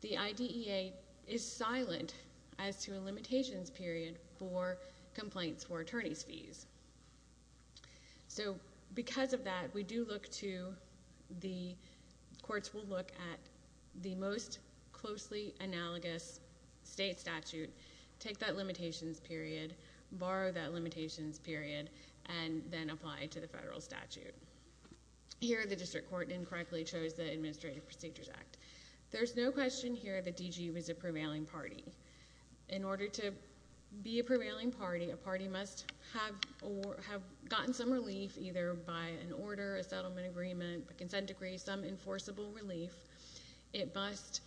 The IDEA is silent as to a limitations period for complaints for attorney's fees. So, because of that, we do look to, the courts will look at the most closely analogous state statute, take that limitations period, borrow that limitations period, and then apply it to the federal statute. Here, the district court incorrectly chose the Administrative Procedures Act. There's no question here that D.G. was a prevailing party. In order to be a prevailing party, a party must have gotten some relief either by an order, a settlement agreement, a consent decree, some enforceable relief. It must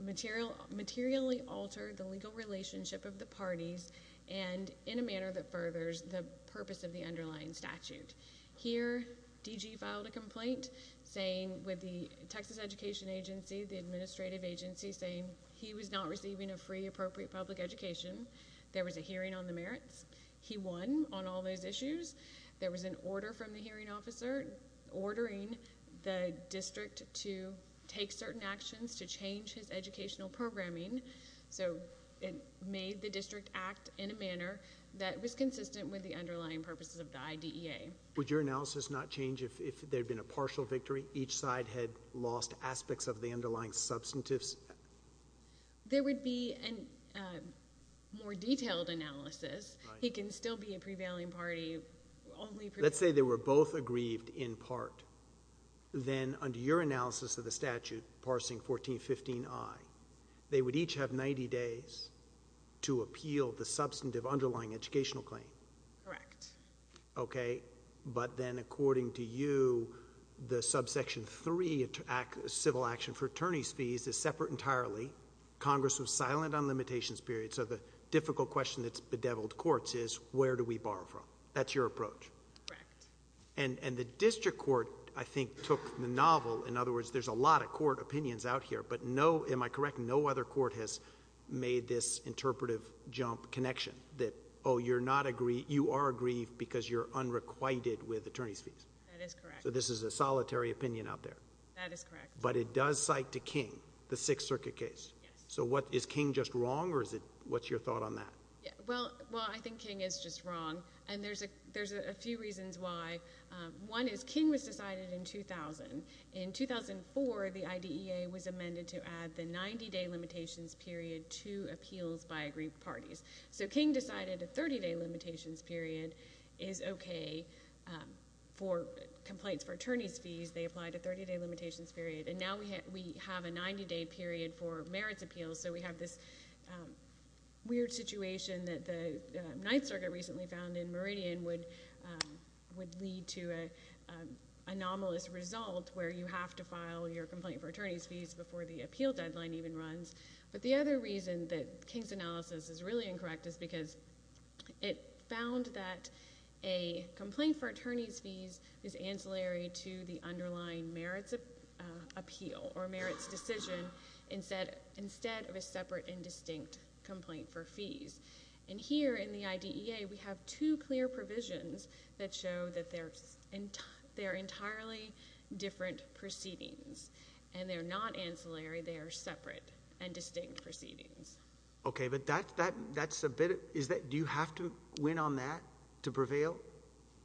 materially alter the legal relationship of the parties and in a manner that furthers the purpose of the underlying statute. Here, D.G. filed a complaint saying with the Texas Education Agency, the administrative agency, saying he was not receiving a free appropriate public education. There was a hearing on the merits. He won on all those issues. There was an order from the hearing officer ordering the district to take certain actions to change his educational programming. So, it made the district act in a manner that was consistent with the underlying purposes of the IDEA. Would your analysis not change if there had been a partial victory? Each side had lost aspects of the underlying substantives? There would be a more detailed analysis. He can still be a prevailing party. Let's say they were both aggrieved in part. Then, under your analysis of the statute, parsing 1415I, they would each have 90 days to appeal the substantive underlying educational claim. Correct. Okay. But then, according to you, the subsection 3, civil action for attorney's fees, is separate entirely. Congress was silent on limitations period. So, the difficult question that's bedeviled courts is where do we borrow from? That's your approach. Correct. And the district court, I think, took the novel. In other words, there's a lot of court opinions out here. But no, am I correct, no other court has made this interpretive jump connection that, oh, you're not aggrieved. You are aggrieved because you're unrequited with attorney's fees. That is correct. So, this is a solitary opinion out there. That is correct. But it does cite to King the Sixth Circuit case. Yes. So, what, is King just wrong or is it, what's your thought on that? Well, I think King is just wrong. And there's a few reasons why. One is King was decided in 2000. In 2004, the IDEA was amended to add the 90-day limitations period to appeals by aggrieved parties. So, King decided a 30-day limitations period is okay for complaints for attorney's fees. They applied a 30-day limitations period. And now we have a 90-day period for merits appeals. So, we have this weird situation that the Ninth Circuit recently found in Meridian would lead to an anomalous result where you have to file your complaint for attorney's fees before the appeal deadline even runs. But the other reason that King's analysis is really incorrect is because it found that a complaint for attorney's fees is ancillary to the underlying merits appeal or merits decision instead of a separate and distinct complaint for fees. And here in the IDEA, we have two clear provisions that show that they're entirely different proceedings. And they're not ancillary. They are separate and distinct proceedings. Okay. But that's a bit of, is that, do you have to win on that to prevail?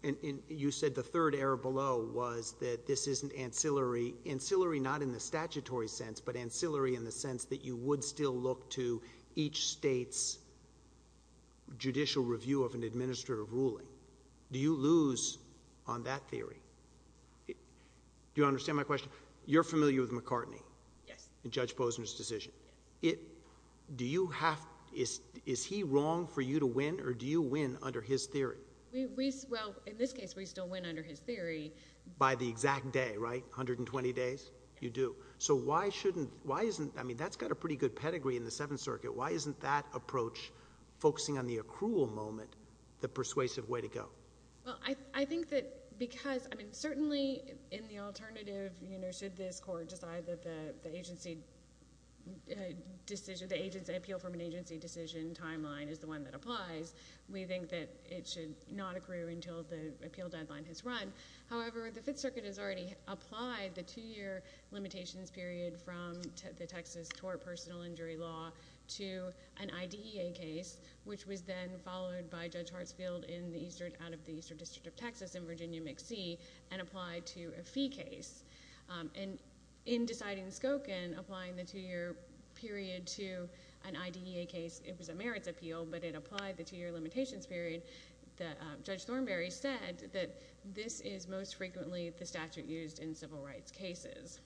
And you said the third error below was that this isn't ancillary. Ancillary not in the statutory sense, but ancillary in the sense that you would still look to each state's judicial review of an administrative ruling. Do you lose on that theory? Do you understand my question? You're familiar with McCartney. Yes. In Judge Posner's decision. Yes. Do you have, is he wrong for you to win or do you win under his theory? Well, in this case, we still win under his theory. By the exact day, right? 120 days? You do. So why shouldn't, why isn't, I mean, that's got a pretty good pedigree in the Seventh Circuit. Why isn't that approach focusing on the accrual moment the persuasive way to go? Well, I think that because, I mean, certainly in the alternative, you know, should this court decide that the agency decision, the appeal from an agency decision timeline is the one that applies, we think that it should not accrue until the appeal deadline has run. However, the Fifth Circuit has already applied the two-year limitations period from the Texas tort personal injury law to an IDEA case, which was then followed by Judge Hartsfield in the Eastern, out of the Eastern District of Texas in Virginia McSee and applied to a fee case. And in deciding Skokin, applying the two-year period to an IDEA case, it was a merits appeal, but it applied the two-year limitations period. Judge Thornberry said that this is most frequently the statute used in civil rights cases.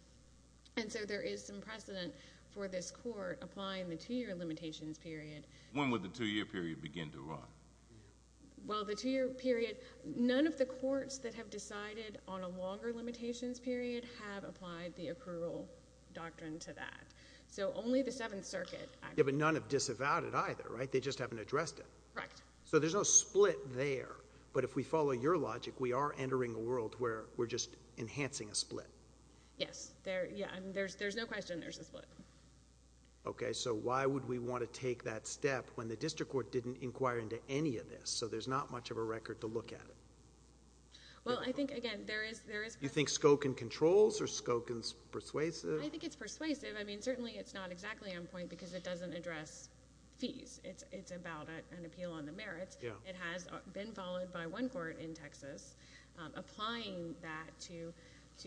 And so there is some precedent for this court applying the two-year limitations period. When would the two-year period begin to run? Well, the two-year period, none of the courts that have decided on a longer limitations period have applied the accrual doctrine to that. So only the Seventh Circuit. Yeah, but none have disavowed it either, right? They just haven't addressed it. Correct. So there's no split there. But if we follow your logic, we are entering a world where we're just enhancing a split. Yes. There's no question there's a split. Okay, so why would we want to take that step when the district court didn't inquire into any of this? So there's not much of a record to look at. Well, I think, again, there is— You think Skokin controls or Skokin's persuasive? I think it's persuasive. I mean, certainly it's not exactly on point because it doesn't address fees. It's about an appeal on the merits. It has been followed by one court in Texas applying that to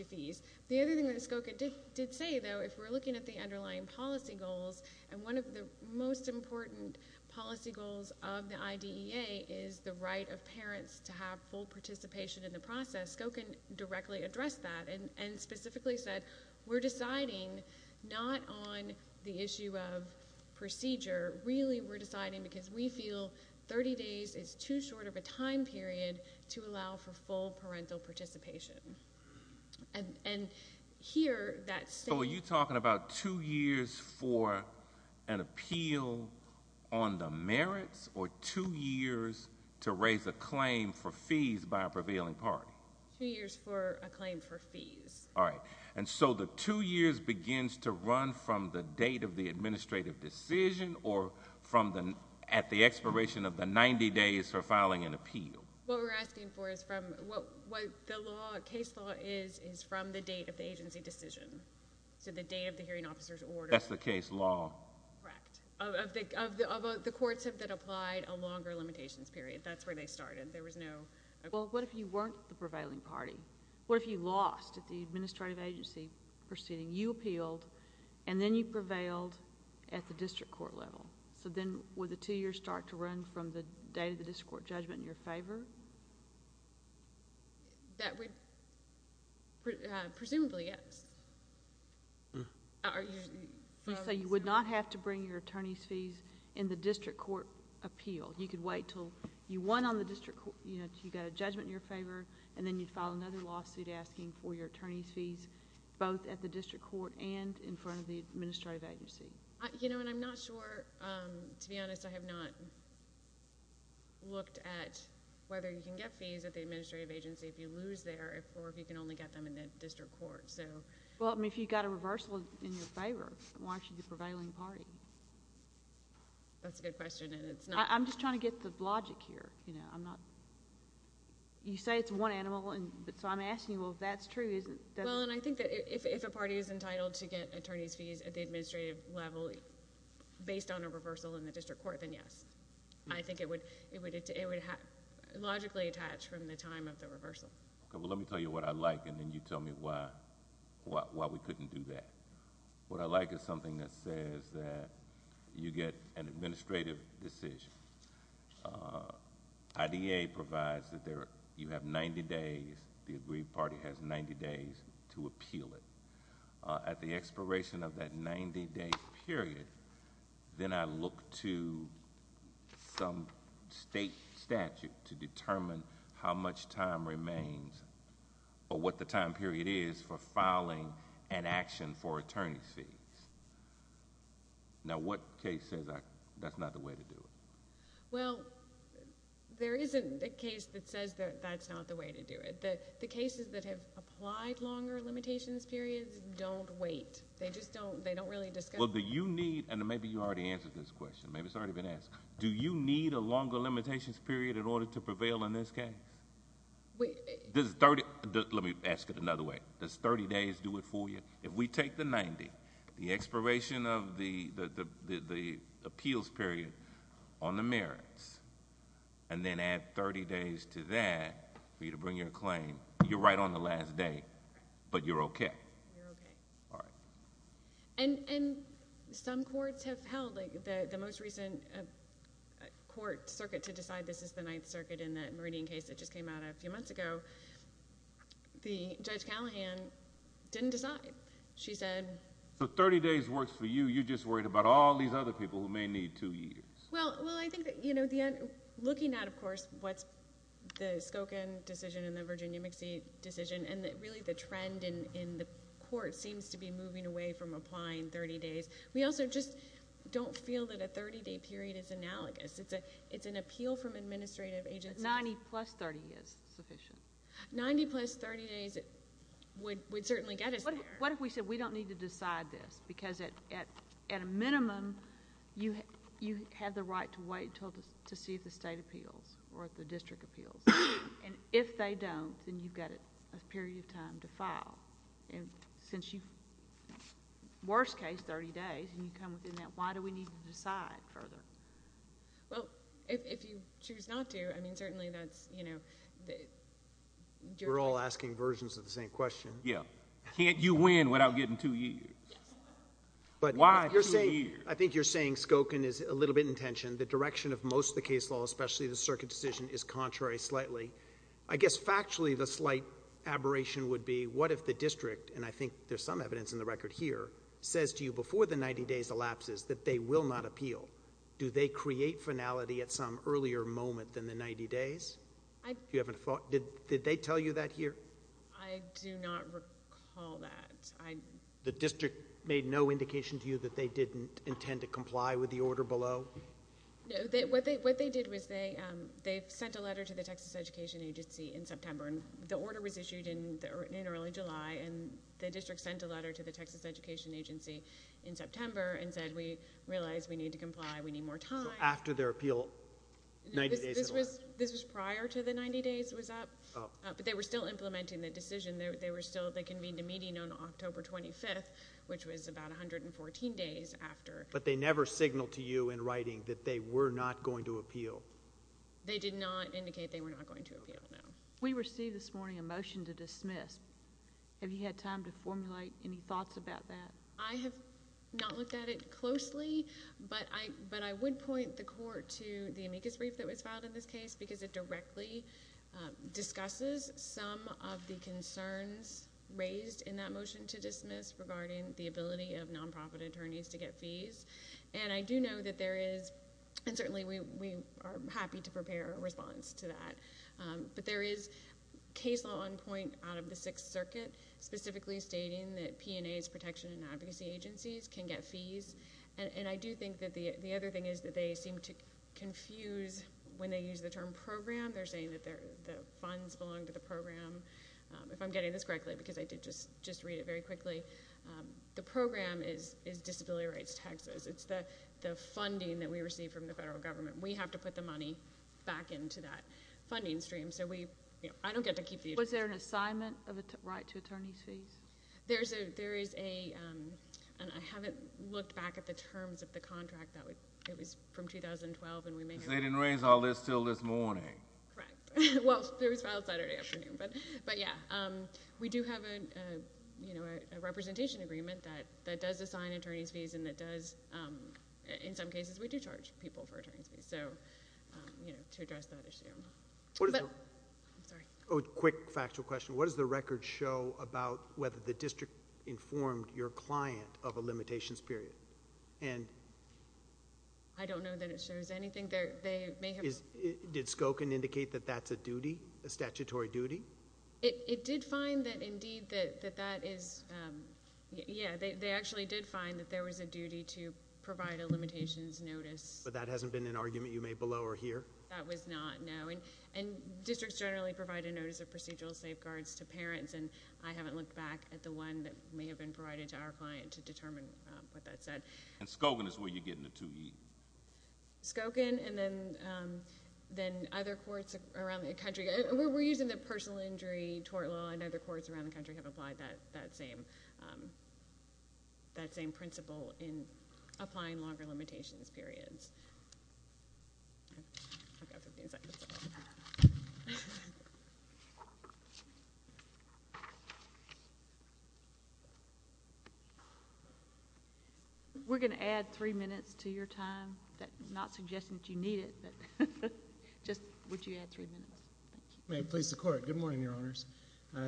fees. The other thing that Skokin did say, though, if we're looking at the underlying policy goals, and one of the most important policy goals of the IDEA is the right of parents to have full participation in the process, Skokin directly addressed that and specifically said, we're deciding not on the issue of procedure. Really, we're deciding because we feel 30 days is too short of a time period to allow for full parental participation. And here, that's saying— So are you talking about two years for an appeal on the merits or two years to raise a claim for fees by a prevailing party? Two years for a claim for fees. All right. And so the two years begins to run from the date of the administrative decision or at the expiration of the 90 days for filing an appeal? What we're asking for is from—the case law is from the date of the agency decision. So the date of the hearing officer's order. That's the case law. Correct. Of the courts that applied a longer limitations period. That's where they started. There was no— Well, what if you weren't the prevailing party? What if you lost at the administrative agency proceeding? You appealed, and then you prevailed at the district court level. So then would the two years start to run from the date of the district court judgment in your favor? That would—presumably, yes. So you would not have to bring your attorney's fees in the district court appeal. You could wait until you won on the district court—you got a judgment in your favor, and then you'd file another lawsuit asking for your attorney's fees both at the district court and in front of the administrative agency. You know, and I'm not sure—to be honest, I have not looked at whether you can get fees at the administrative agency if you lose there or if you can only get them in the district court. Well, if you got a reversal in your favor, why should you prevail in the party? That's a good question, and it's not— I'm just trying to get the logic here. You say it's one animal, so I'm asking you, well, if that's true, is it— Well, and I think that if a party is entitled to get attorney's fees at the administrative level based on a reversal in the district court, then yes. I think it would logically attach from the time of the reversal. Okay, well, let me tell you what I like, and then you tell me why we couldn't do that. What I like is something that says that you get an administrative decision. IDA provides that you have 90 days. The agreed party has 90 days to appeal it. At the expiration of that 90-day period, then I look to some state statute to determine how much time remains or what the time period is for filing an action for attorney's fees. Now, what case says that's not the way to do it? Well, there isn't a case that says that that's not the way to do it. The cases that have applied longer limitations periods don't wait. They just don't really discuss— Well, do you need—and maybe you already answered this question. Maybe it's already been asked. Do you need a longer limitations period in order to prevail in this case? Does 30—let me ask it another way. Does 30 days do it for you? If we take the 90, the expiration of the appeals period on the merits, and then add 30 days to that for you to bring your claim, you're right on the last day, but you're okay. You're okay. All right. And some courts have held. The most recent court circuit to decide this is the Ninth Circuit in that Meridian case that just came out a few months ago, the Judge Callahan didn't decide. She said— So 30 days works for you. You're just worried about all these other people who may need two years. Well, I think that looking at, of course, what's the Skoken decision and the Virginia McSee decision, and really the trend in the court seems to be moving away from applying 30 days. We also just don't feel that a 30-day period is analogous. It's an appeal from administrative agencies. 90 plus 30 is sufficient. 90 plus 30 days would certainly get us there. What if we said we don't need to decide this because, at a minimum, you have the right to wait to see if the state appeals or if the district appeals? And if they don't, then you've got a period of time to file. And since you—worst case, 30 days, and you come within that, why do we need to decide further? Well, if you choose not to, I mean, certainly that's, you know— We're all asking versions of the same question. Yeah. Can't you win without getting two years? Why two years? I think you're saying Skoken is a little bit in tension. The direction of most of the case law, especially the circuit decision, is contrary slightly. I guess factually the slight aberration would be what if the district, and I think there's some evidence in the record here, says to you before the 90 days elapses that they will not appeal. Do they create finality at some earlier moment than the 90 days? Do you have a thought? Did they tell you that here? I do not recall that. The district made no indication to you that they didn't intend to comply with the order below? No. What they did was they sent a letter to the Texas Education Agency in September. The order was issued in early July, and the district sent a letter to the Texas Education Agency in September and said we realize we need to comply, we need more time. So after their appeal, 90 days had elapsed? This was prior to the 90 days was up. But they were still implementing the decision. They convened a meeting on October 25th, which was about 114 days after. But they never signaled to you in writing that they were not going to appeal? They did not indicate they were not going to appeal, no. We received this morning a motion to dismiss. Have you had time to formulate any thoughts about that? I have not looked at it closely, but I would point the court to the amicus brief that was filed in this case because it directly discusses some of the concerns raised in that motion to dismiss regarding the ability of nonprofit attorneys to get fees. And I do know that there is, and certainly we are happy to prepare a response to that, but there is case law on point out of the Sixth Circuit specifically stating that P&As, protection and advocacy agencies, can get fees. And I do think that the other thing is that they seem to confuse when they use the term program. They're saying that the funds belong to the program. If I'm getting this correctly, because I did just read it very quickly, the program is Disability Rights Texas. It's the funding that we receive from the federal government. We have to put the money back into that funding stream. So I don't get to keep the address. Was there an assignment of a right to attorney's fees? There is a, and I haven't looked back at the terms of the contract. It was from 2012. They didn't raise all this until this morning. Correct. Well, it was filed Saturday afternoon. But, yeah, we do have a representation agreement that does assign attorney's fees and that does, in some cases, we do charge people for attorney's fees. So, you know, to address that issue. Quick factual question. What does the record show about whether the district informed your client of a limitations period? I don't know that it shows anything. Did Skokin indicate that that's a duty, a statutory duty? It did find that indeed that that is, yeah, they actually did find that there was a duty to provide a limitations notice. But that hasn't been an argument you made below or here? That was not, no. And districts generally provide a notice of procedural safeguards to parents, and I haven't looked back at the one that may have been provided to our client to determine what that said. And Skokin is where you're getting the 2E? Skokin and then other courts around the country. We're using the personal injury tort law. I know other courts around the country have applied that same principle in applying longer limitations periods. I've got 15 seconds. We're going to add three minutes to your time. I'm not suggesting that you need it, but just would you add three minutes? May it please the Court. Good morning, Your Honors.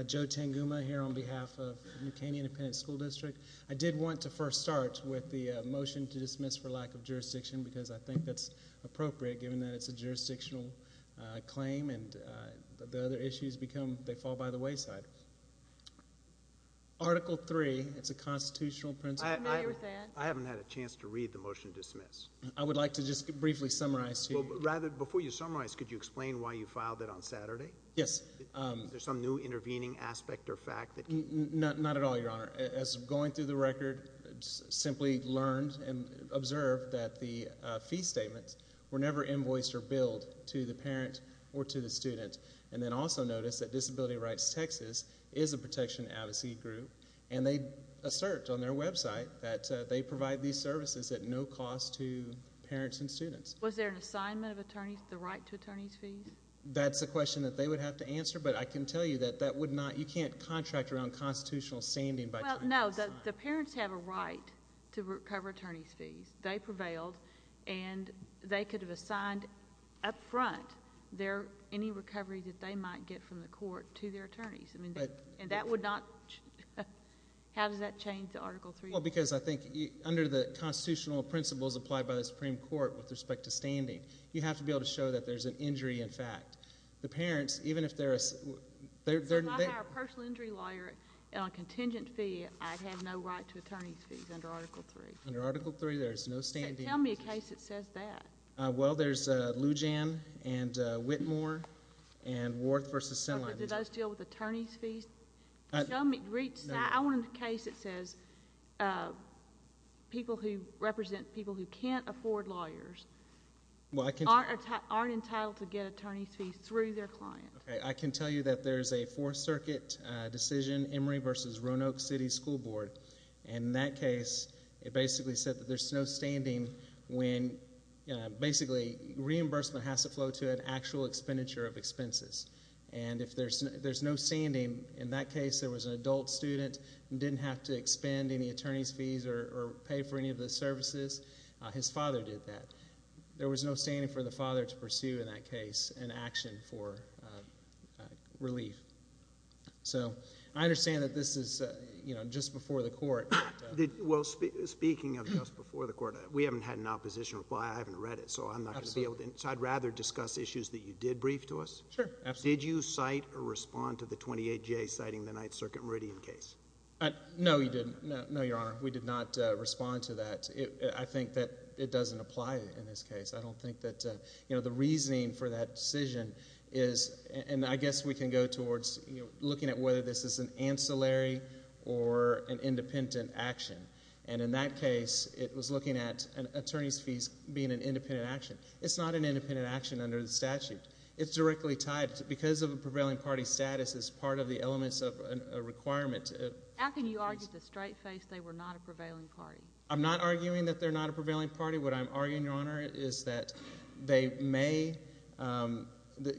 Joe Tanguma here on behalf of New Canyon Independent School District. I did want to first start with the motion to dismiss for lack of jurisdiction because I think that's appropriate given that it's a jurisdictional claim and the other issues become they fall by the wayside. Article 3, it's a constitutional principle. I haven't had a chance to read the motion to dismiss. I would like to just briefly summarize to you. Rather, before you summarize, could you explain why you filed it on Saturday? Yes. Is there some new intervening aspect or fact? Not at all, Your Honor. As of going through the record, I simply learned and observed that the fee statements were never invoiced or billed to the parent or to the student, and then also noticed that Disability Rights Texas is a protection advocacy group, and they assert on their website that they provide these services at no cost to parents and students. Was there an assignment of the right to attorney's fees? That's a question that they would have to answer, but I can tell you that that would not. You can't contract around constitutional standing by trying to assign. Well, no. The parents have a right to recover attorney's fees. They prevailed, and they could have assigned up front any recovery that they might get from the court to their attorneys, and that would not change. How does that change to Article 3? Well, because I think under the constitutional principles applied by the Supreme Court with respect to standing, you have to be able to show that there's an injury in fact. The parents, even if they're a personal injury lawyer and on contingent fee, I have no right to attorney's fees under Article 3. Under Article 3, there is no standing. Tell me a case that says that. Well, there's Lujan and Whitmore and Worth v. Sinline. Does it deal with attorney's fees? I want a case that says people who represent people who can't afford lawyers. Well, I can tell you. Aren't entitled to get attorney's fees through their client. I can tell you that there's a Fourth Circuit decision, Emory v. Roanoke City School Board, and in that case it basically said that there's no standing when basically reimbursement has to flow to an actual expenditure of expenses. And if there's no standing, in that case there was an adult student who didn't have to expend any attorney's fees or pay for any of the services. His father did that. There was no standing for the father to pursue in that case in action for relief. So I understand that this is just before the court. Well, speaking of just before the court, we haven't had an opposition reply. I haven't read it, so I'm not going to be able to. I'd rather discuss issues that you did brief to us. Sure. Did you cite or respond to the 28J citing the Ninth Circuit Meridian case? No, you didn't. No, Your Honor. We did not respond to that. I think that it doesn't apply in this case. I don't think that the reasoning for that decision is, and I guess we can go towards looking at whether this is an ancillary or an independent action, and in that case it was looking at attorney's fees being an independent action. It's not an independent action under the statute. It's directly tied because of a prevailing party status as part of the elements of a requirement. How can you argue with a straight face they were not a prevailing party? I'm not arguing that they're not a prevailing party. What I'm arguing, Your Honor, is that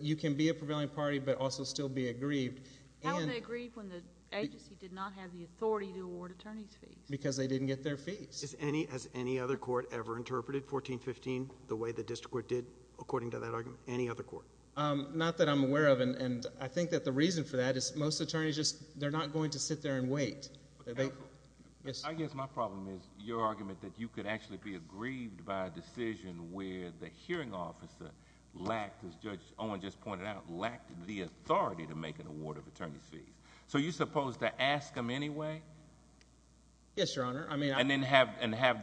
you can be a prevailing party but also still be aggrieved. How are they aggrieved when the agency did not have the authority to award attorney's fees? Because they didn't get their fees. Has any other court ever interpreted 1415 the way the district court did, according to that argument, any other court? Not that I'm aware of, and I think that the reason for that is most attorneys, they're not going to sit there and wait. I guess my problem is your argument that you could actually be aggrieved by a decision where the hearing officer lacked, as Judge Owen just pointed out, lacked the authority to make an award of attorney's fees. So are you supposed to ask them anyway? Yes, Your Honor. And then have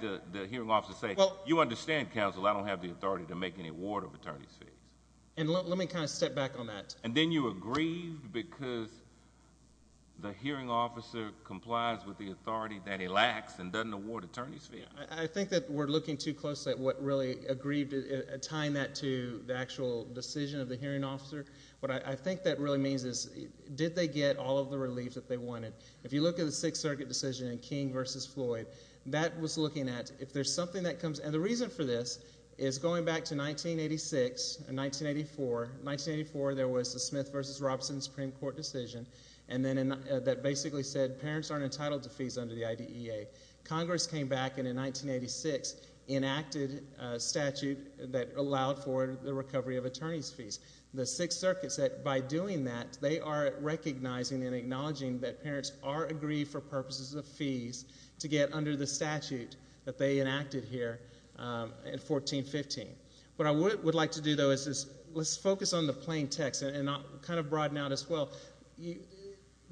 the hearing officer say, You understand, counsel, I don't have the authority to make any award of attorney's fees. Let me kind of step back on that. And then you were aggrieved because the hearing officer complies with the authority that he lacks and doesn't award attorney's fees. I think that we're looking too closely at what really aggrieved, tying that to the actual decision of the hearing officer. What I think that really means is did they get all of the relief that they wanted? If you look at the Sixth Circuit decision in King v. Floyd, that was looking at if there's something that comes. And the reason for this is going back to 1986 and 1984. 1984, there was the Smith v. Robson Supreme Court decision that basically said parents aren't entitled to fees under the IDEA. Congress came back and in 1986 enacted a statute that allowed for the recovery of attorney's fees. The Sixth Circuit said by doing that, they are recognizing and acknowledging that parents are aggrieved for purposes of fees to get under the statute that they enacted here in 1415. What I would like to do, though, is focus on the plain text and kind of broaden out as well.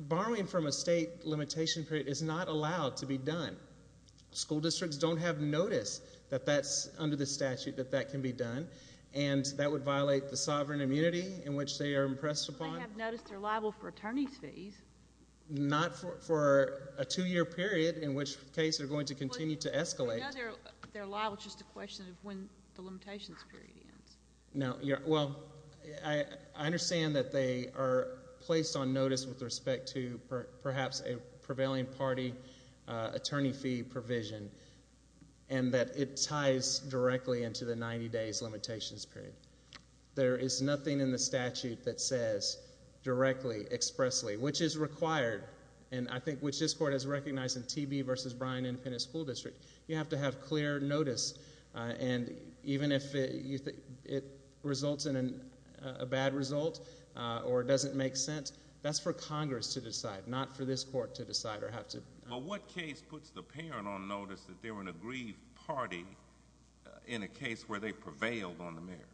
Borrowing from a state limitation period is not allowed to be done. School districts don't have notice that that's under the statute, that that can be done, and that would violate the sovereign immunity in which they are impressed upon. But they have noticed they're liable for attorney's fees. Not for a two-year period, in which case they're going to continue to escalate. I know they're liable. It's just a question of when the limitations period ends. No. Well, I understand that they are placed on notice with respect to perhaps a prevailing party attorney fee provision and that it ties directly into the 90 days limitations period. There is nothing in the statute that says directly, expressly, which is required, and I think which this court has recognized in TB v. Bryan Independent School District. You have to have clear notice, and even if it results in a bad result or doesn't make sense, that's for Congress to decide, not for this court to decide or have to. But what case puts the parent on notice that they're an aggrieved party in a case where they prevailed on the merits?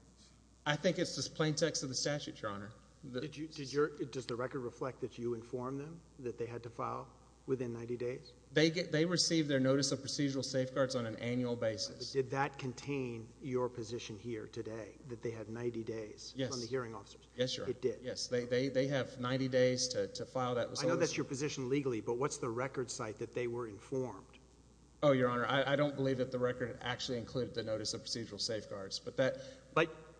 I think it's just plain text of the statute, Your Honor. Does the record reflect that you informed them that they had to file within 90 days? They receive their notice of procedural safeguards on an annual basis. Did that contain your position here today, that they had 90 days? Yes. On the hearing officers? Yes, Your Honor. It did? Yes. They have 90 days to file that. I know that's your position legally, but what's the record site that they were informed? Oh, Your Honor, I don't believe that the record actually included the notice of procedural safeguards.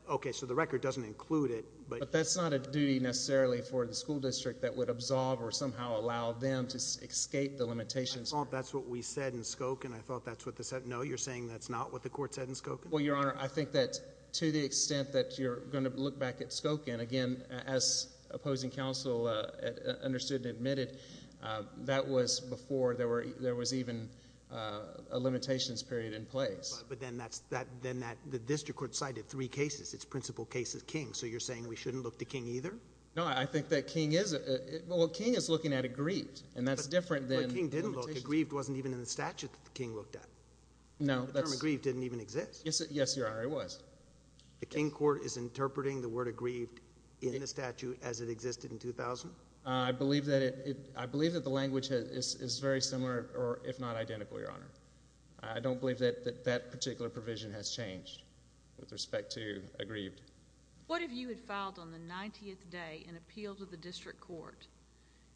Okay, so the record doesn't include it. But that's not a duty necessarily for the school district that would absolve or somehow allow them to escape the limitations. I thought that's what we said in Skokin. I thought that's what they said. No, you're saying that's not what the court said in Skokin? Well, Your Honor, I think that to the extent that you're going to look back at Skokin, again, as opposing counsel understood and admitted, that was before there was even a limitations period in place. But then the district court cited three cases. Its principal case is King, so you're saying we shouldn't look to King either? No, I think that King is looking at aggrieved, and that's different than limitations. But King didn't look. Aggrieved wasn't even in the statute that King looked at. No. The term aggrieved didn't even exist. Yes, Your Honor, it was. The King court is interpreting the word aggrieved in the statute as it existed in 2000? I believe that the language is very similar, if not identical, Your Honor. I don't believe that that particular provision has changed with respect to aggrieved. What if you had filed on the 90th day an appeal to the district court,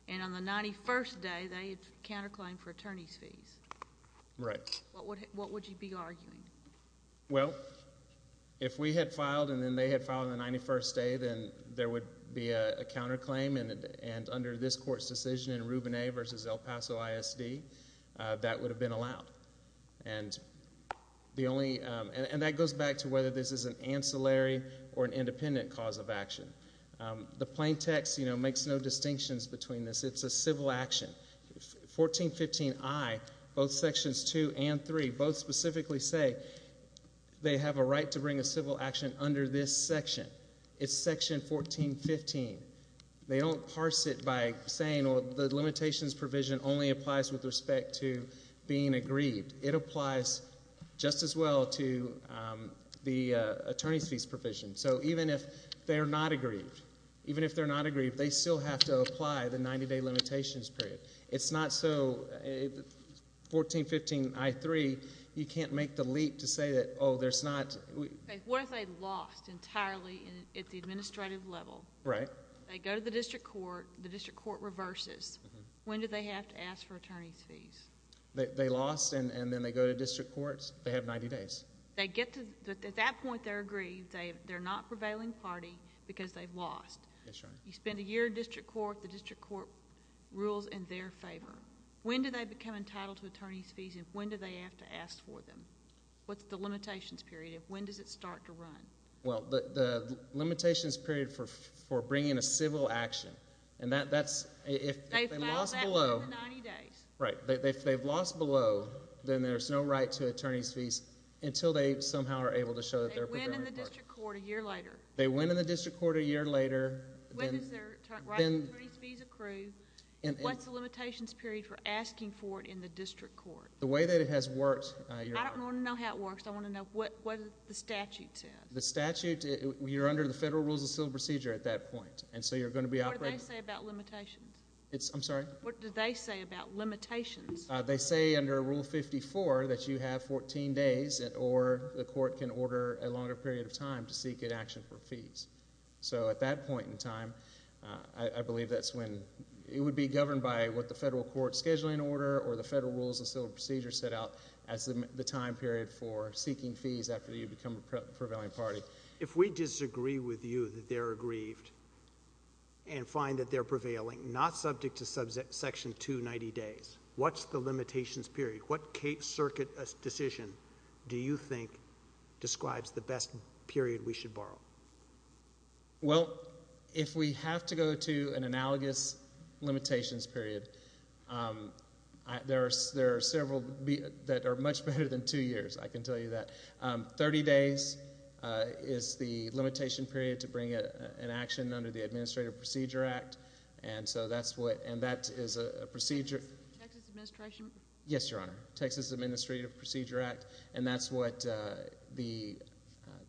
and on the 91st day they had counterclaimed for attorney's fees? Right. What would you be arguing? Well, if we had filed and then they had filed on the 91st day, then there would be a counterclaim, and under this court's decision in Rubin A. v. El Paso ISD, that would have been allowed. And that goes back to whether this is an ancillary or an independent cause of action. The plain text makes no distinctions between this. It's a civil action. 1415I, both Sections 2 and 3 both specifically say they have a right to bring a civil action under this section. It's Section 1415. They don't parse it by saying, well, the limitations provision only applies with respect to being aggrieved. It applies just as well to the attorney's fees provision. So even if they're not aggrieved, even if they're not aggrieved, they still have to apply the 90-day limitations period. It's not so 1415I-3, you can't make the leap to say that, oh, there's not. What if they lost entirely at the administrative level? Right. They go to the district court. The district court reverses. When do they have to ask for attorney's fees? They lost, and then they go to district courts. They have 90 days. At that point, they're aggrieved. They're not prevailing party because they've lost. That's right. You spend a year in district court. The district court rules in their favor. When do they become entitled to attorney's fees, and when do they have to ask for them? What's the limitations period? When does it start to run? Well, the limitations period for bringing a civil action, and that's if they lost below. They filed that within the 90 days. Right. If they've lost below, then there's no right to attorney's fees until they somehow are able to show that they're prevailing party. They win in the district court a year later. They win in the district court a year later. When does their right to attorney's fees accrue? What's the limitations period for asking for it in the district court? The way that it has worked. I don't want to know how it works. I want to know what the statute says. The statute, you're under the Federal Rules of Civil Procedure at that point, and so you're going to be operating. What do they say about limitations? I'm sorry? What do they say about limitations? They say under Rule 54 that you have 14 days, or the court can order a longer period of time to seek an action for fees. So at that point in time, I believe that's when it would be governed by what the federal court's scheduling order or the Federal Rules of Civil Procedure set out as the time period for seeking fees after you become a prevailing party. If we disagree with you that they're aggrieved and find that they're prevailing, not subject to Section 290 days, what's the limitations period? What circuit decision do you think describes the best period we should borrow? Well, if we have to go to an analogous limitations period, there are several that are much better than two years, I can tell you that. Thirty days is the limitation period to bring an action under the Administrative Procedure Act, and so that's what, and that is a procedure. Texas Administration? Yes, Your Honor. Texas Administrative Procedure Act, and that's what the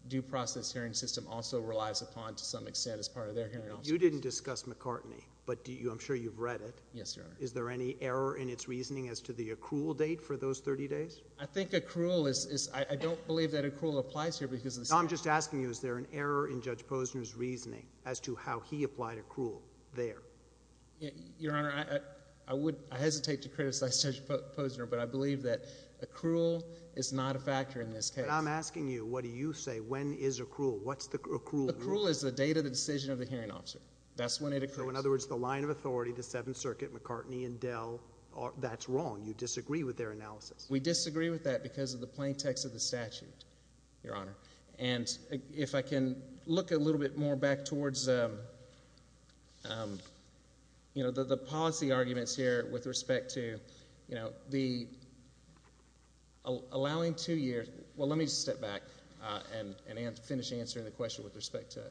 due process hearing system also relies upon to some extent as part of their hearing. You didn't discuss McCartney, but I'm sure you've read it. Yes, Your Honor. Is there any error in its reasoning as to the accrual date for those 30 days? I think accrual is, I don't believe that accrual applies here because of the statute. No, I'm just asking you, is there an error in Judge Posner's reasoning as to how he applied accrual there? Your Honor, I would, I hesitate to criticize Judge Posner, but I believe that accrual is not a factor in this case. But I'm asking you, what do you say? When is accrual? What's the accrual date? Accrual is the date of the decision of the hearing officer. That's when it occurs. So in other words, the line of authority, the Seventh Circuit, McCartney and Dell, that's wrong. You disagree with their analysis. We disagree with that because of the plain text of the statute, Your Honor. And if I can look a little bit more back towards, you know, the policy arguments here with respect to, you know, the allowing two years. Well, let me step back and finish answering the question with respect to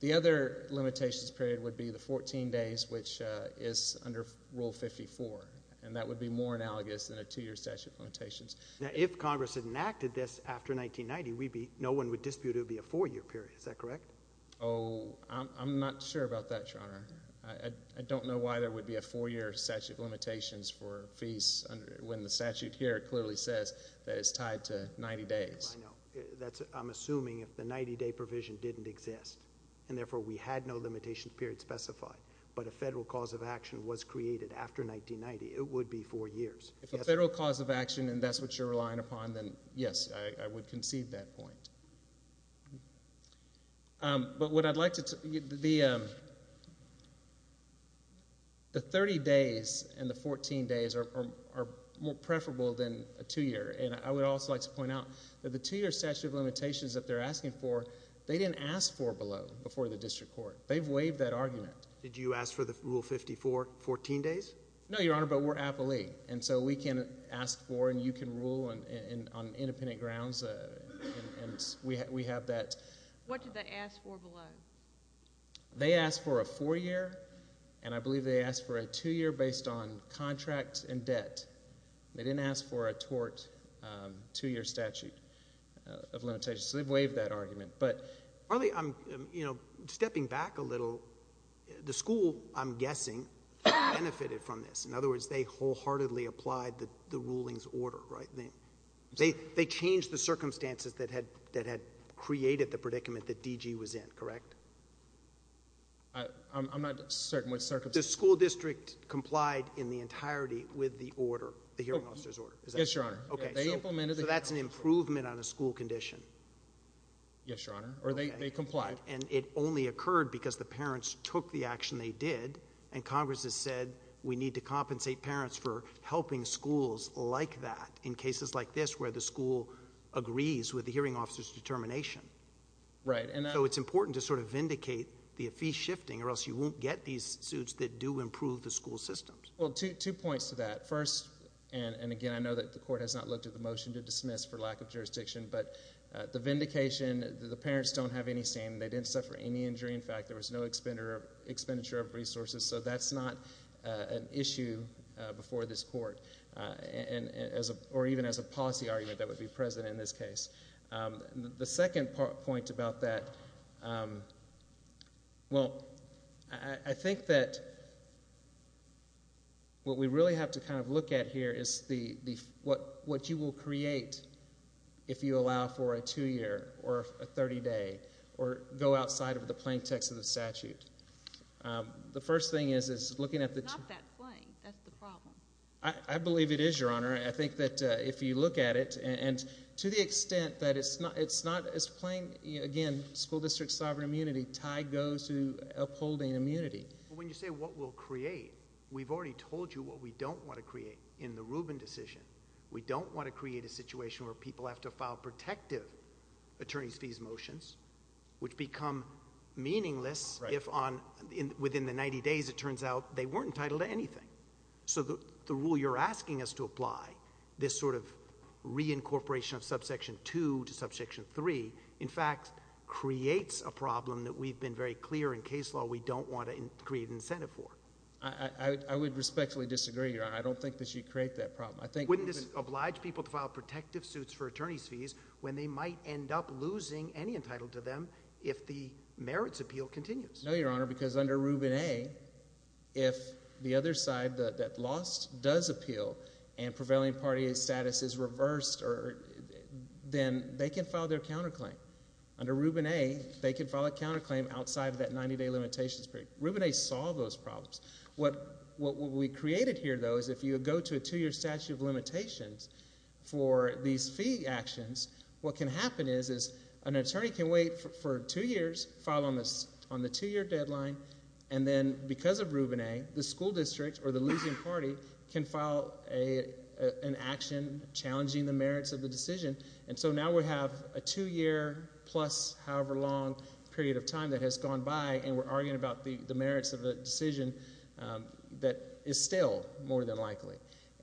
the other limitations period would be the 14 days, which is under Rule 54. And that would be more analogous than a two-year statute of limitations. Now, if Congress enacted this after 1990, no one would dispute it would be a four-year period. Is that correct? Oh, I'm not sure about that, Your Honor. I don't know why there would be a four-year statute of limitations for fees when the statute here clearly says that it's tied to 90 days. I know. I'm assuming if the 90-day provision didn't exist and, therefore, we had no limitation period specified, but a federal cause of action was created after 1990, it would be four years. If a federal cause of action and that's what you're relying upon, then, yes, I would concede that point. But what I'd like to – the 30 days and the 14 days are more preferable than a two-year. And I would also like to point out that the two-year statute of limitations that they're asking for, they didn't ask for below before the district court. They've waived that argument. Did you ask for the Rule 54 14 days? No, Your Honor, but we're appellee, and so we can ask for and you can rule on independent grounds, and we have that. What did they ask for below? They asked for a four-year, and I believe they asked for a two-year based on contract and debt. They didn't ask for a tort two-year statute of limitations, so they've waived that argument. Arlie, stepping back a little, the school, I'm guessing, benefited from this. In other words, they wholeheartedly applied the ruling's order, right? They changed the circumstances that had created the predicament that DG was in, correct? I'm not certain which circumstances. The school district complied in the entirety with the order, the hearing officer's order, is that correct? Yes, Your Honor. So that's an improvement on a school condition? Yes, Your Honor, or they complied. And it only occurred because the parents took the action they did, and Congress has said we need to compensate parents for helping schools like that in cases like this where the school agrees with the hearing officer's determination. Right. So it's important to sort of vindicate the fee shifting or else you won't get these suits that do improve the school systems. Well, two points to that. First, and again, I know that the court has not looked at the motion to dismiss for lack of jurisdiction, but the vindication, the parents don't have any shame. They didn't suffer any injury. In fact, there was no expenditure of resources. So that's not an issue before this court, or even as a policy argument that would be present in this case. The second point about that, well, I think that what we really have to kind of look at here is what you will create if you allow for a two-year or a 30-day or go outside of the plain text of the statute. The first thing is looking at the two. It's not that plain. That's the problem. I believe it is, Your Honor. I think that if you look at it, and to the extent that it's not as plain, again, school district sovereign immunity, tied goes to upholding immunity. When you say what we'll create, we've already told you what we don't want to create in the Rubin decision. We don't want to create a situation where people have to file protective attorney's fees motions, which become meaningless if within the 90 days it turns out they weren't entitled to anything. So the rule you're asking us to apply, this sort of reincorporation of subsection 2 to subsection 3, in fact, creates a problem that we've been very clear in case law we don't want to create an incentive for. I would respectfully disagree, Your Honor. I don't think that you create that problem. Wouldn't this oblige people to file protective suits for attorney's fees when they might end up losing any entitlement to them if the merits appeal continues? No, Your Honor, because under Rubin A, if the other side that lost does appeal and prevailing party status is reversed, then they can file their counterclaim. Under Rubin A, they can file a counterclaim outside of that 90-day limitations period. Rubin A solved those problems. What we created here, though, is if you go to a 2-year statute of limitations for these fee actions, what can happen is an attorney can wait for 2 years, file on the 2-year deadline, and then because of Rubin A, the school district or the losing party can file an action challenging the merits of the decision. And so now we have a 2-year plus however long period of time that has gone by, and we're arguing about the merits of a decision that is still more than likely.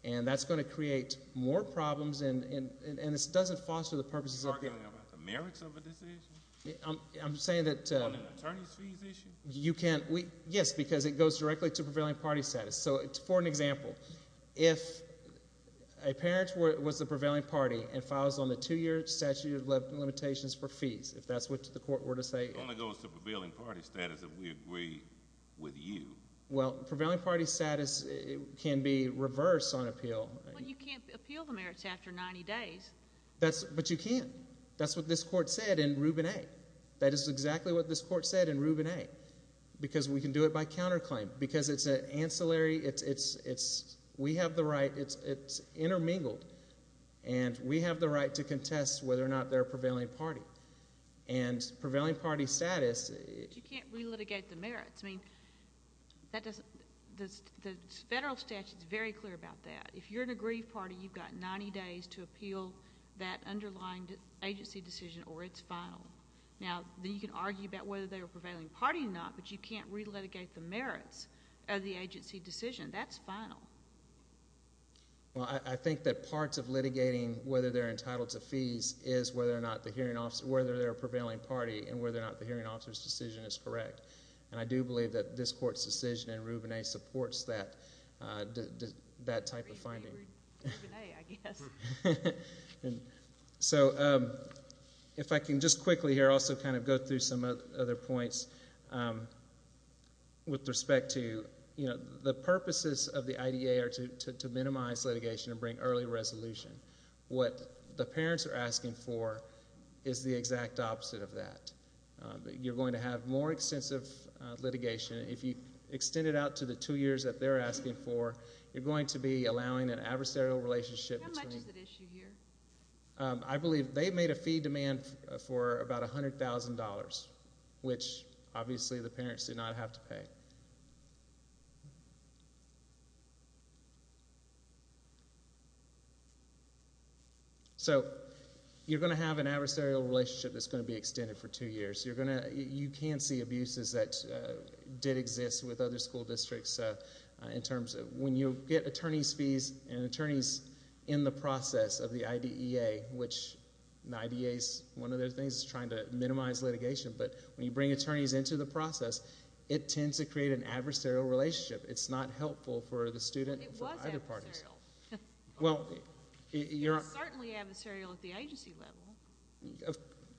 And that's going to create more problems, and this doesn't foster the purposes of the case. You're arguing about the merits of a decision? I'm saying that— On an attorney's fees issue? You can't—yes, because it goes directly to prevailing party status. So for an example, if a parent was the prevailing party and files on the 2-year statute of limitations for fees, if that's what the court were to say— It only goes to prevailing party status if we agree with you. Well, prevailing party status can be reversed on appeal. But you can't appeal the merits after 90 days. But you can. That's what this court said in Rubin A. That is exactly what this court said in Rubin A. Because we can do it by counterclaim. Because it's an ancillary—we have the right—it's intermingled. And we have the right to contest whether or not they're a prevailing party. And prevailing party status— But you can't relitigate the merits. I mean, the federal statute is very clear about that. If you're an aggrieved party, you've got 90 days to appeal that underlying agency decision or it's final. Now, then you can argue about whether they're a prevailing party or not, but you can't relitigate the merits of the agency decision. That's final. Well, I think that parts of litigating whether they're entitled to fees is whether or not the hearing officer—whether they're a prevailing party and whether or not the hearing officer's decision is correct. And I do believe that this court's decision in Rubin A. supports that type of finding. Rubin A., I guess. So if I can just quickly here also kind of go through some other points with respect to— the purposes of the IDA are to minimize litigation and bring early resolution. What the parents are asking for is the exact opposite of that. You're going to have more extensive litigation. If you extend it out to the two years that they're asking for, you're going to be allowing an adversarial relationship between— How much is at issue here? I believe they've made a fee demand for about $100,000, which obviously the parents do not have to pay. Okay. So you're going to have an adversarial relationship that's going to be extended for two years. You're going to—you can see abuses that did exist with other school districts in terms of— when you get attorney's fees and an attorney's in the process of the IDEA, which an IDEA's one of their things is trying to minimize litigation, but when you bring attorneys into the process, it tends to create an adversarial relationship. It's not helpful for the student and for either parties. It was adversarial. It was certainly adversarial at the agency level.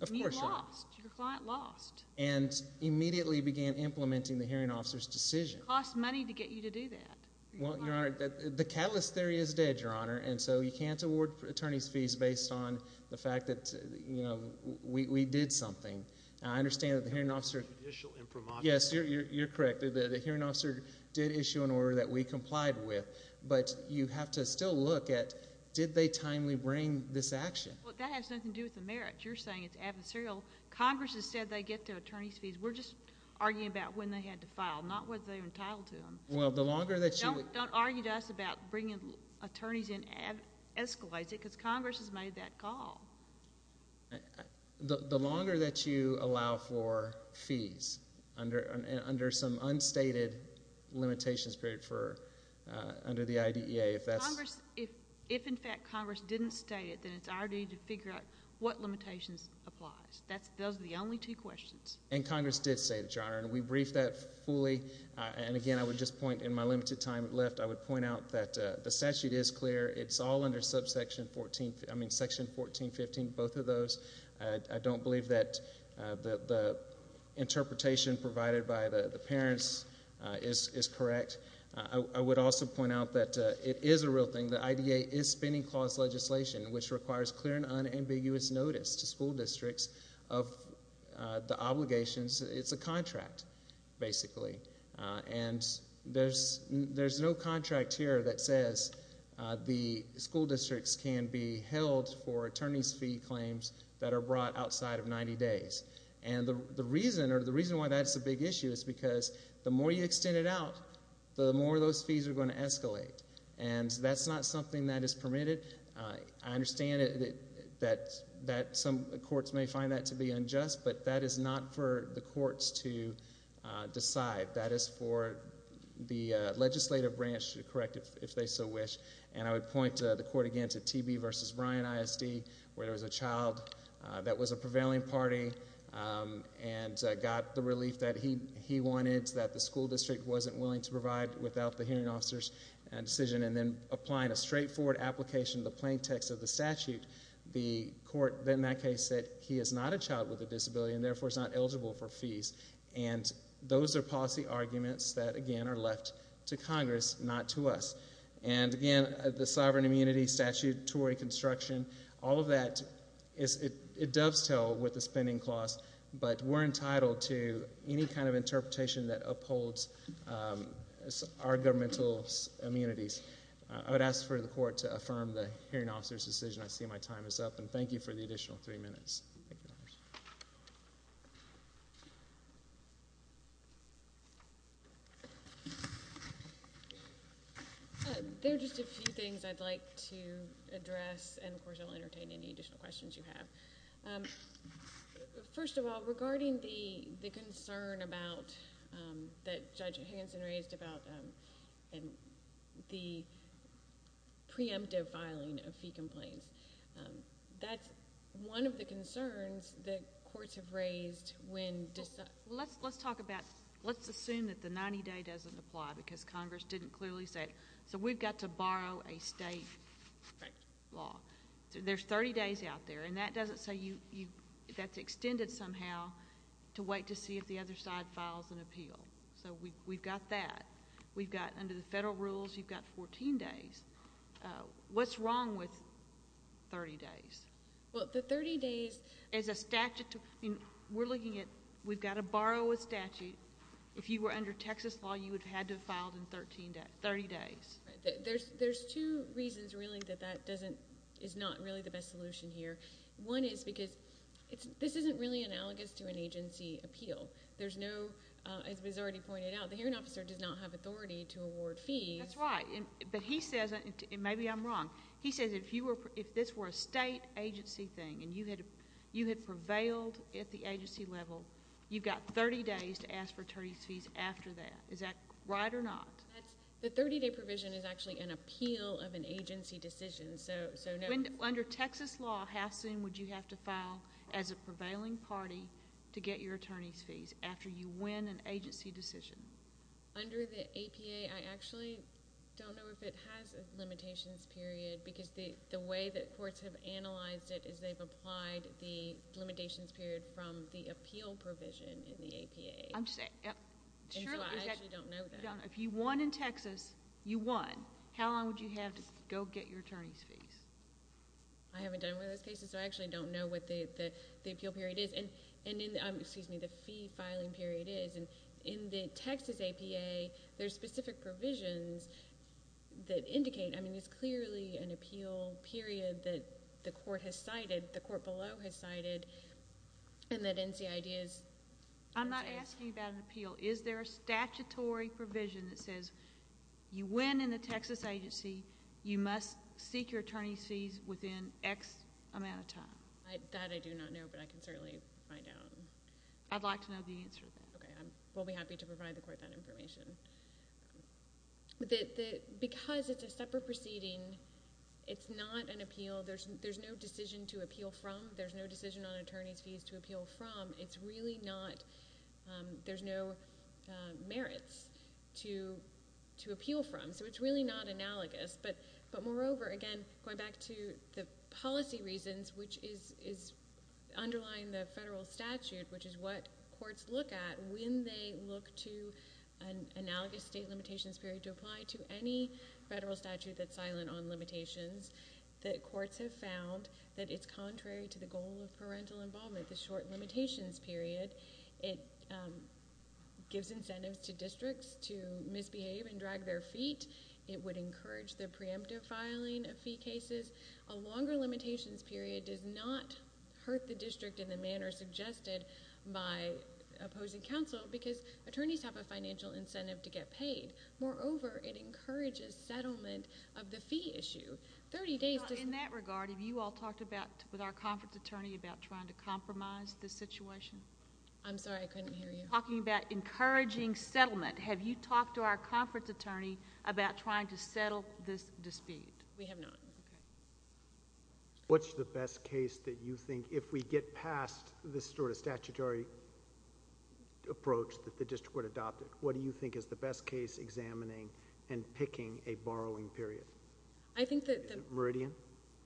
Of course not. You lost. Your client lost. And immediately began implementing the hearing officer's decision. It costs money to get you to do that. Well, Your Honor, the catalyst theory is dead, Your Honor, and so you can't award attorney's fees based on the fact that, you know, we did something. Now, I understand that the hearing officer— Judicial impromptu. Yes, you're correct. The hearing officer did issue an order that we complied with, but you have to still look at did they timely bring this action. Well, that has nothing to do with the merits. You're saying it's adversarial. Congress has said they get their attorney's fees. We're just arguing about when they had to file, not whether they're entitled to them. Well, the longer that you— Don't argue to us about bringing attorneys in escalates it because Congress has made that call. The longer that you allow for fees under some unstated limitations period for—under the IDEA, if that's— Congress—if, in fact, Congress didn't state it, then it's our duty to figure out what limitations applies. Those are the only two questions. And Congress did say that, Your Honor, and we briefed that fully. And, again, I would just point in my limited time left, I would point out that the statute is clear. It's all under subsection 14—I mean section 1415, both of those. I don't believe that the interpretation provided by the parents is correct. I would also point out that it is a real thing. The IDEA is spending clause legislation, which requires clear and unambiguous notice to school districts of the obligations. It's a contract, basically. And there's no contract here that says the school districts can be held for attorney's fee claims that are brought outside of 90 days. And the reason—or the reason why that's a big issue is because the more you extend it out, the more those fees are going to escalate. And that's not something that is permitted. I understand that some courts may find that to be unjust, but that is not for the courts to decide. That is for the legislative branch to correct, if they so wish. And I would point the court again to TB v. Bryan ISD, where there was a child that was a prevailing party and got the relief that he wanted, that the school district wasn't willing to provide without the hearing officer's decision, and then applying a straightforward application to the plain text of the statute, the court, in that case, said he is not a child with a disability and, therefore, is not eligible for fees. And those are policy arguments that, again, are left to Congress, not to us. And, again, the sovereign immunity statute, Tory construction, all of that, it dovetails with the spending clause, but we're entitled to any kind of interpretation that upholds our governmental immunities. I would ask for the court to affirm the hearing officer's decision. I see my time is up, and thank you for the additional three minutes. There are just a few things I'd like to address, and, of course, I'll entertain any additional questions you have. First of all, regarding the concern that Judge Higginson raised about the preemptive filing of fee complaints, that's one of the concerns that courts have raised when... Well, let's talk about... let's assume that the 90-day doesn't apply because Congress didn't clearly say, so we've got to borrow a state law. There's 30 days out there, and that doesn't say you... that's extended somehow to wait to see if the other side files an appeal. So we've got that. We've got, under the federal rules, you've got 14 days. What's wrong with 30 days? Well, the 30 days is a statute... we're looking at... we've got to borrow a statute. If you were under Texas law, you would have had to have filed in 30 days. There's two reasons, really, that that doesn't... is not really the best solution here. One is because this isn't really analogous to an agency appeal. There's no... as was already pointed out, the hearing officer does not have authority to award fees. That's right, but he says, and maybe I'm wrong, he says if this were a state agency thing, and you had prevailed at the agency level, you've got 30 days to ask for attorney's fees after that. Is that right or not? The 30-day provision is actually an appeal of an agency decision, so no. Under Texas law, how soon would you have to file as a prevailing party to get your attorney's fees after you win an agency decision? Under the APA, I actually don't know if it has a limitations period, because the way that courts have analyzed it is they've applied the limitations period from the appeal provision in the APA. I'm just saying... I actually don't know that. If you won in Texas, you won. How long would you have to go get your attorney's fees? I haven't done one of those cases, so I actually don't know what the appeal period is. Excuse me, the fee filing period is. In the Texas APA, there's specific provisions that indicate. I mean, it's clearly an appeal period that the court has cited, the court below has cited, and that NCID is... I'm not asking about an appeal. Is there a statutory provision that says you win in the Texas agency, you must seek your attorney's fees within X amount of time? That I do not know, but I can certainly find out. I'd like to know the answer to that. Okay. We'll be happy to provide the court that information. Because it's a separate proceeding, it's not an appeal. There's no decision to appeal from. There's no decision on attorney's fees to appeal from. It's really not... There's no merits to appeal from, so it's really not analogous. But moreover, again, going back to the policy reasons, which is underlying the federal statute, which is what courts look at when they look to an analogous state limitations period to apply to any federal statute that's silent on limitations. The courts have found that it's contrary to the goal of parental involvement, the short limitations period. It gives incentives to districts to misbehave and drag their feet. It would encourage the preemptive filing of fee cases. A longer limitations period does not hurt the district in the manner suggested by opposing counsel, because attorneys have a financial incentive to get paid. Moreover, it encourages settlement of the fee issue. Thirty days... In that regard, have you all talked about, with our conference attorney, about trying to compromise the situation? I'm sorry. I couldn't hear you. Talking about encouraging settlement. Have you talked to our conference attorney about trying to settle this dispute? We have not. Okay. What's the best case that you think, if we get past this sort of statutory approach that the district would adopt, what do you think is the best case examining and picking a borrowing period? I think that... Meridian?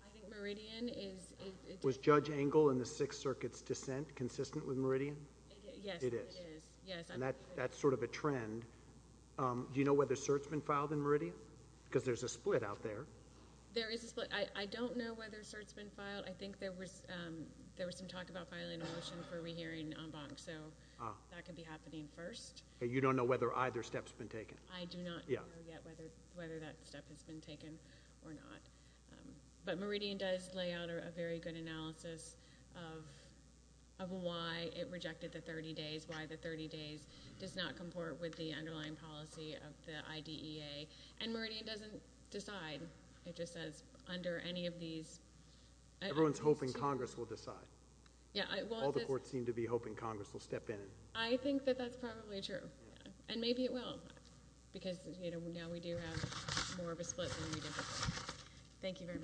I think Meridian is... Was Judge Engel in the Sixth Circuit's dissent consistent with Meridian? Yes, it is. It is? Yes. And that's sort of a trend. Do you know whether cert's been filed in Meridian? Because there's a split out there. There is a split. I don't know whether cert's been filed. I think there was some talk about filing a motion for rehearing en banc, so that could be happening first. You don't know whether either step's been taken? I do not know yet whether that step has been taken or not. But Meridian does lay out a very good analysis of why it rejected the 30 days, why the 30 days does not comport with the underlying policy of the IDEA. And Meridian doesn't decide. It just says under any of these... Everyone's hoping Congress will decide. Yeah, well... All the courts seem to be hoping Congress will step in. I think that that's probably true. And maybe it will, because now we do have more of a split than we did before. Thank you very much.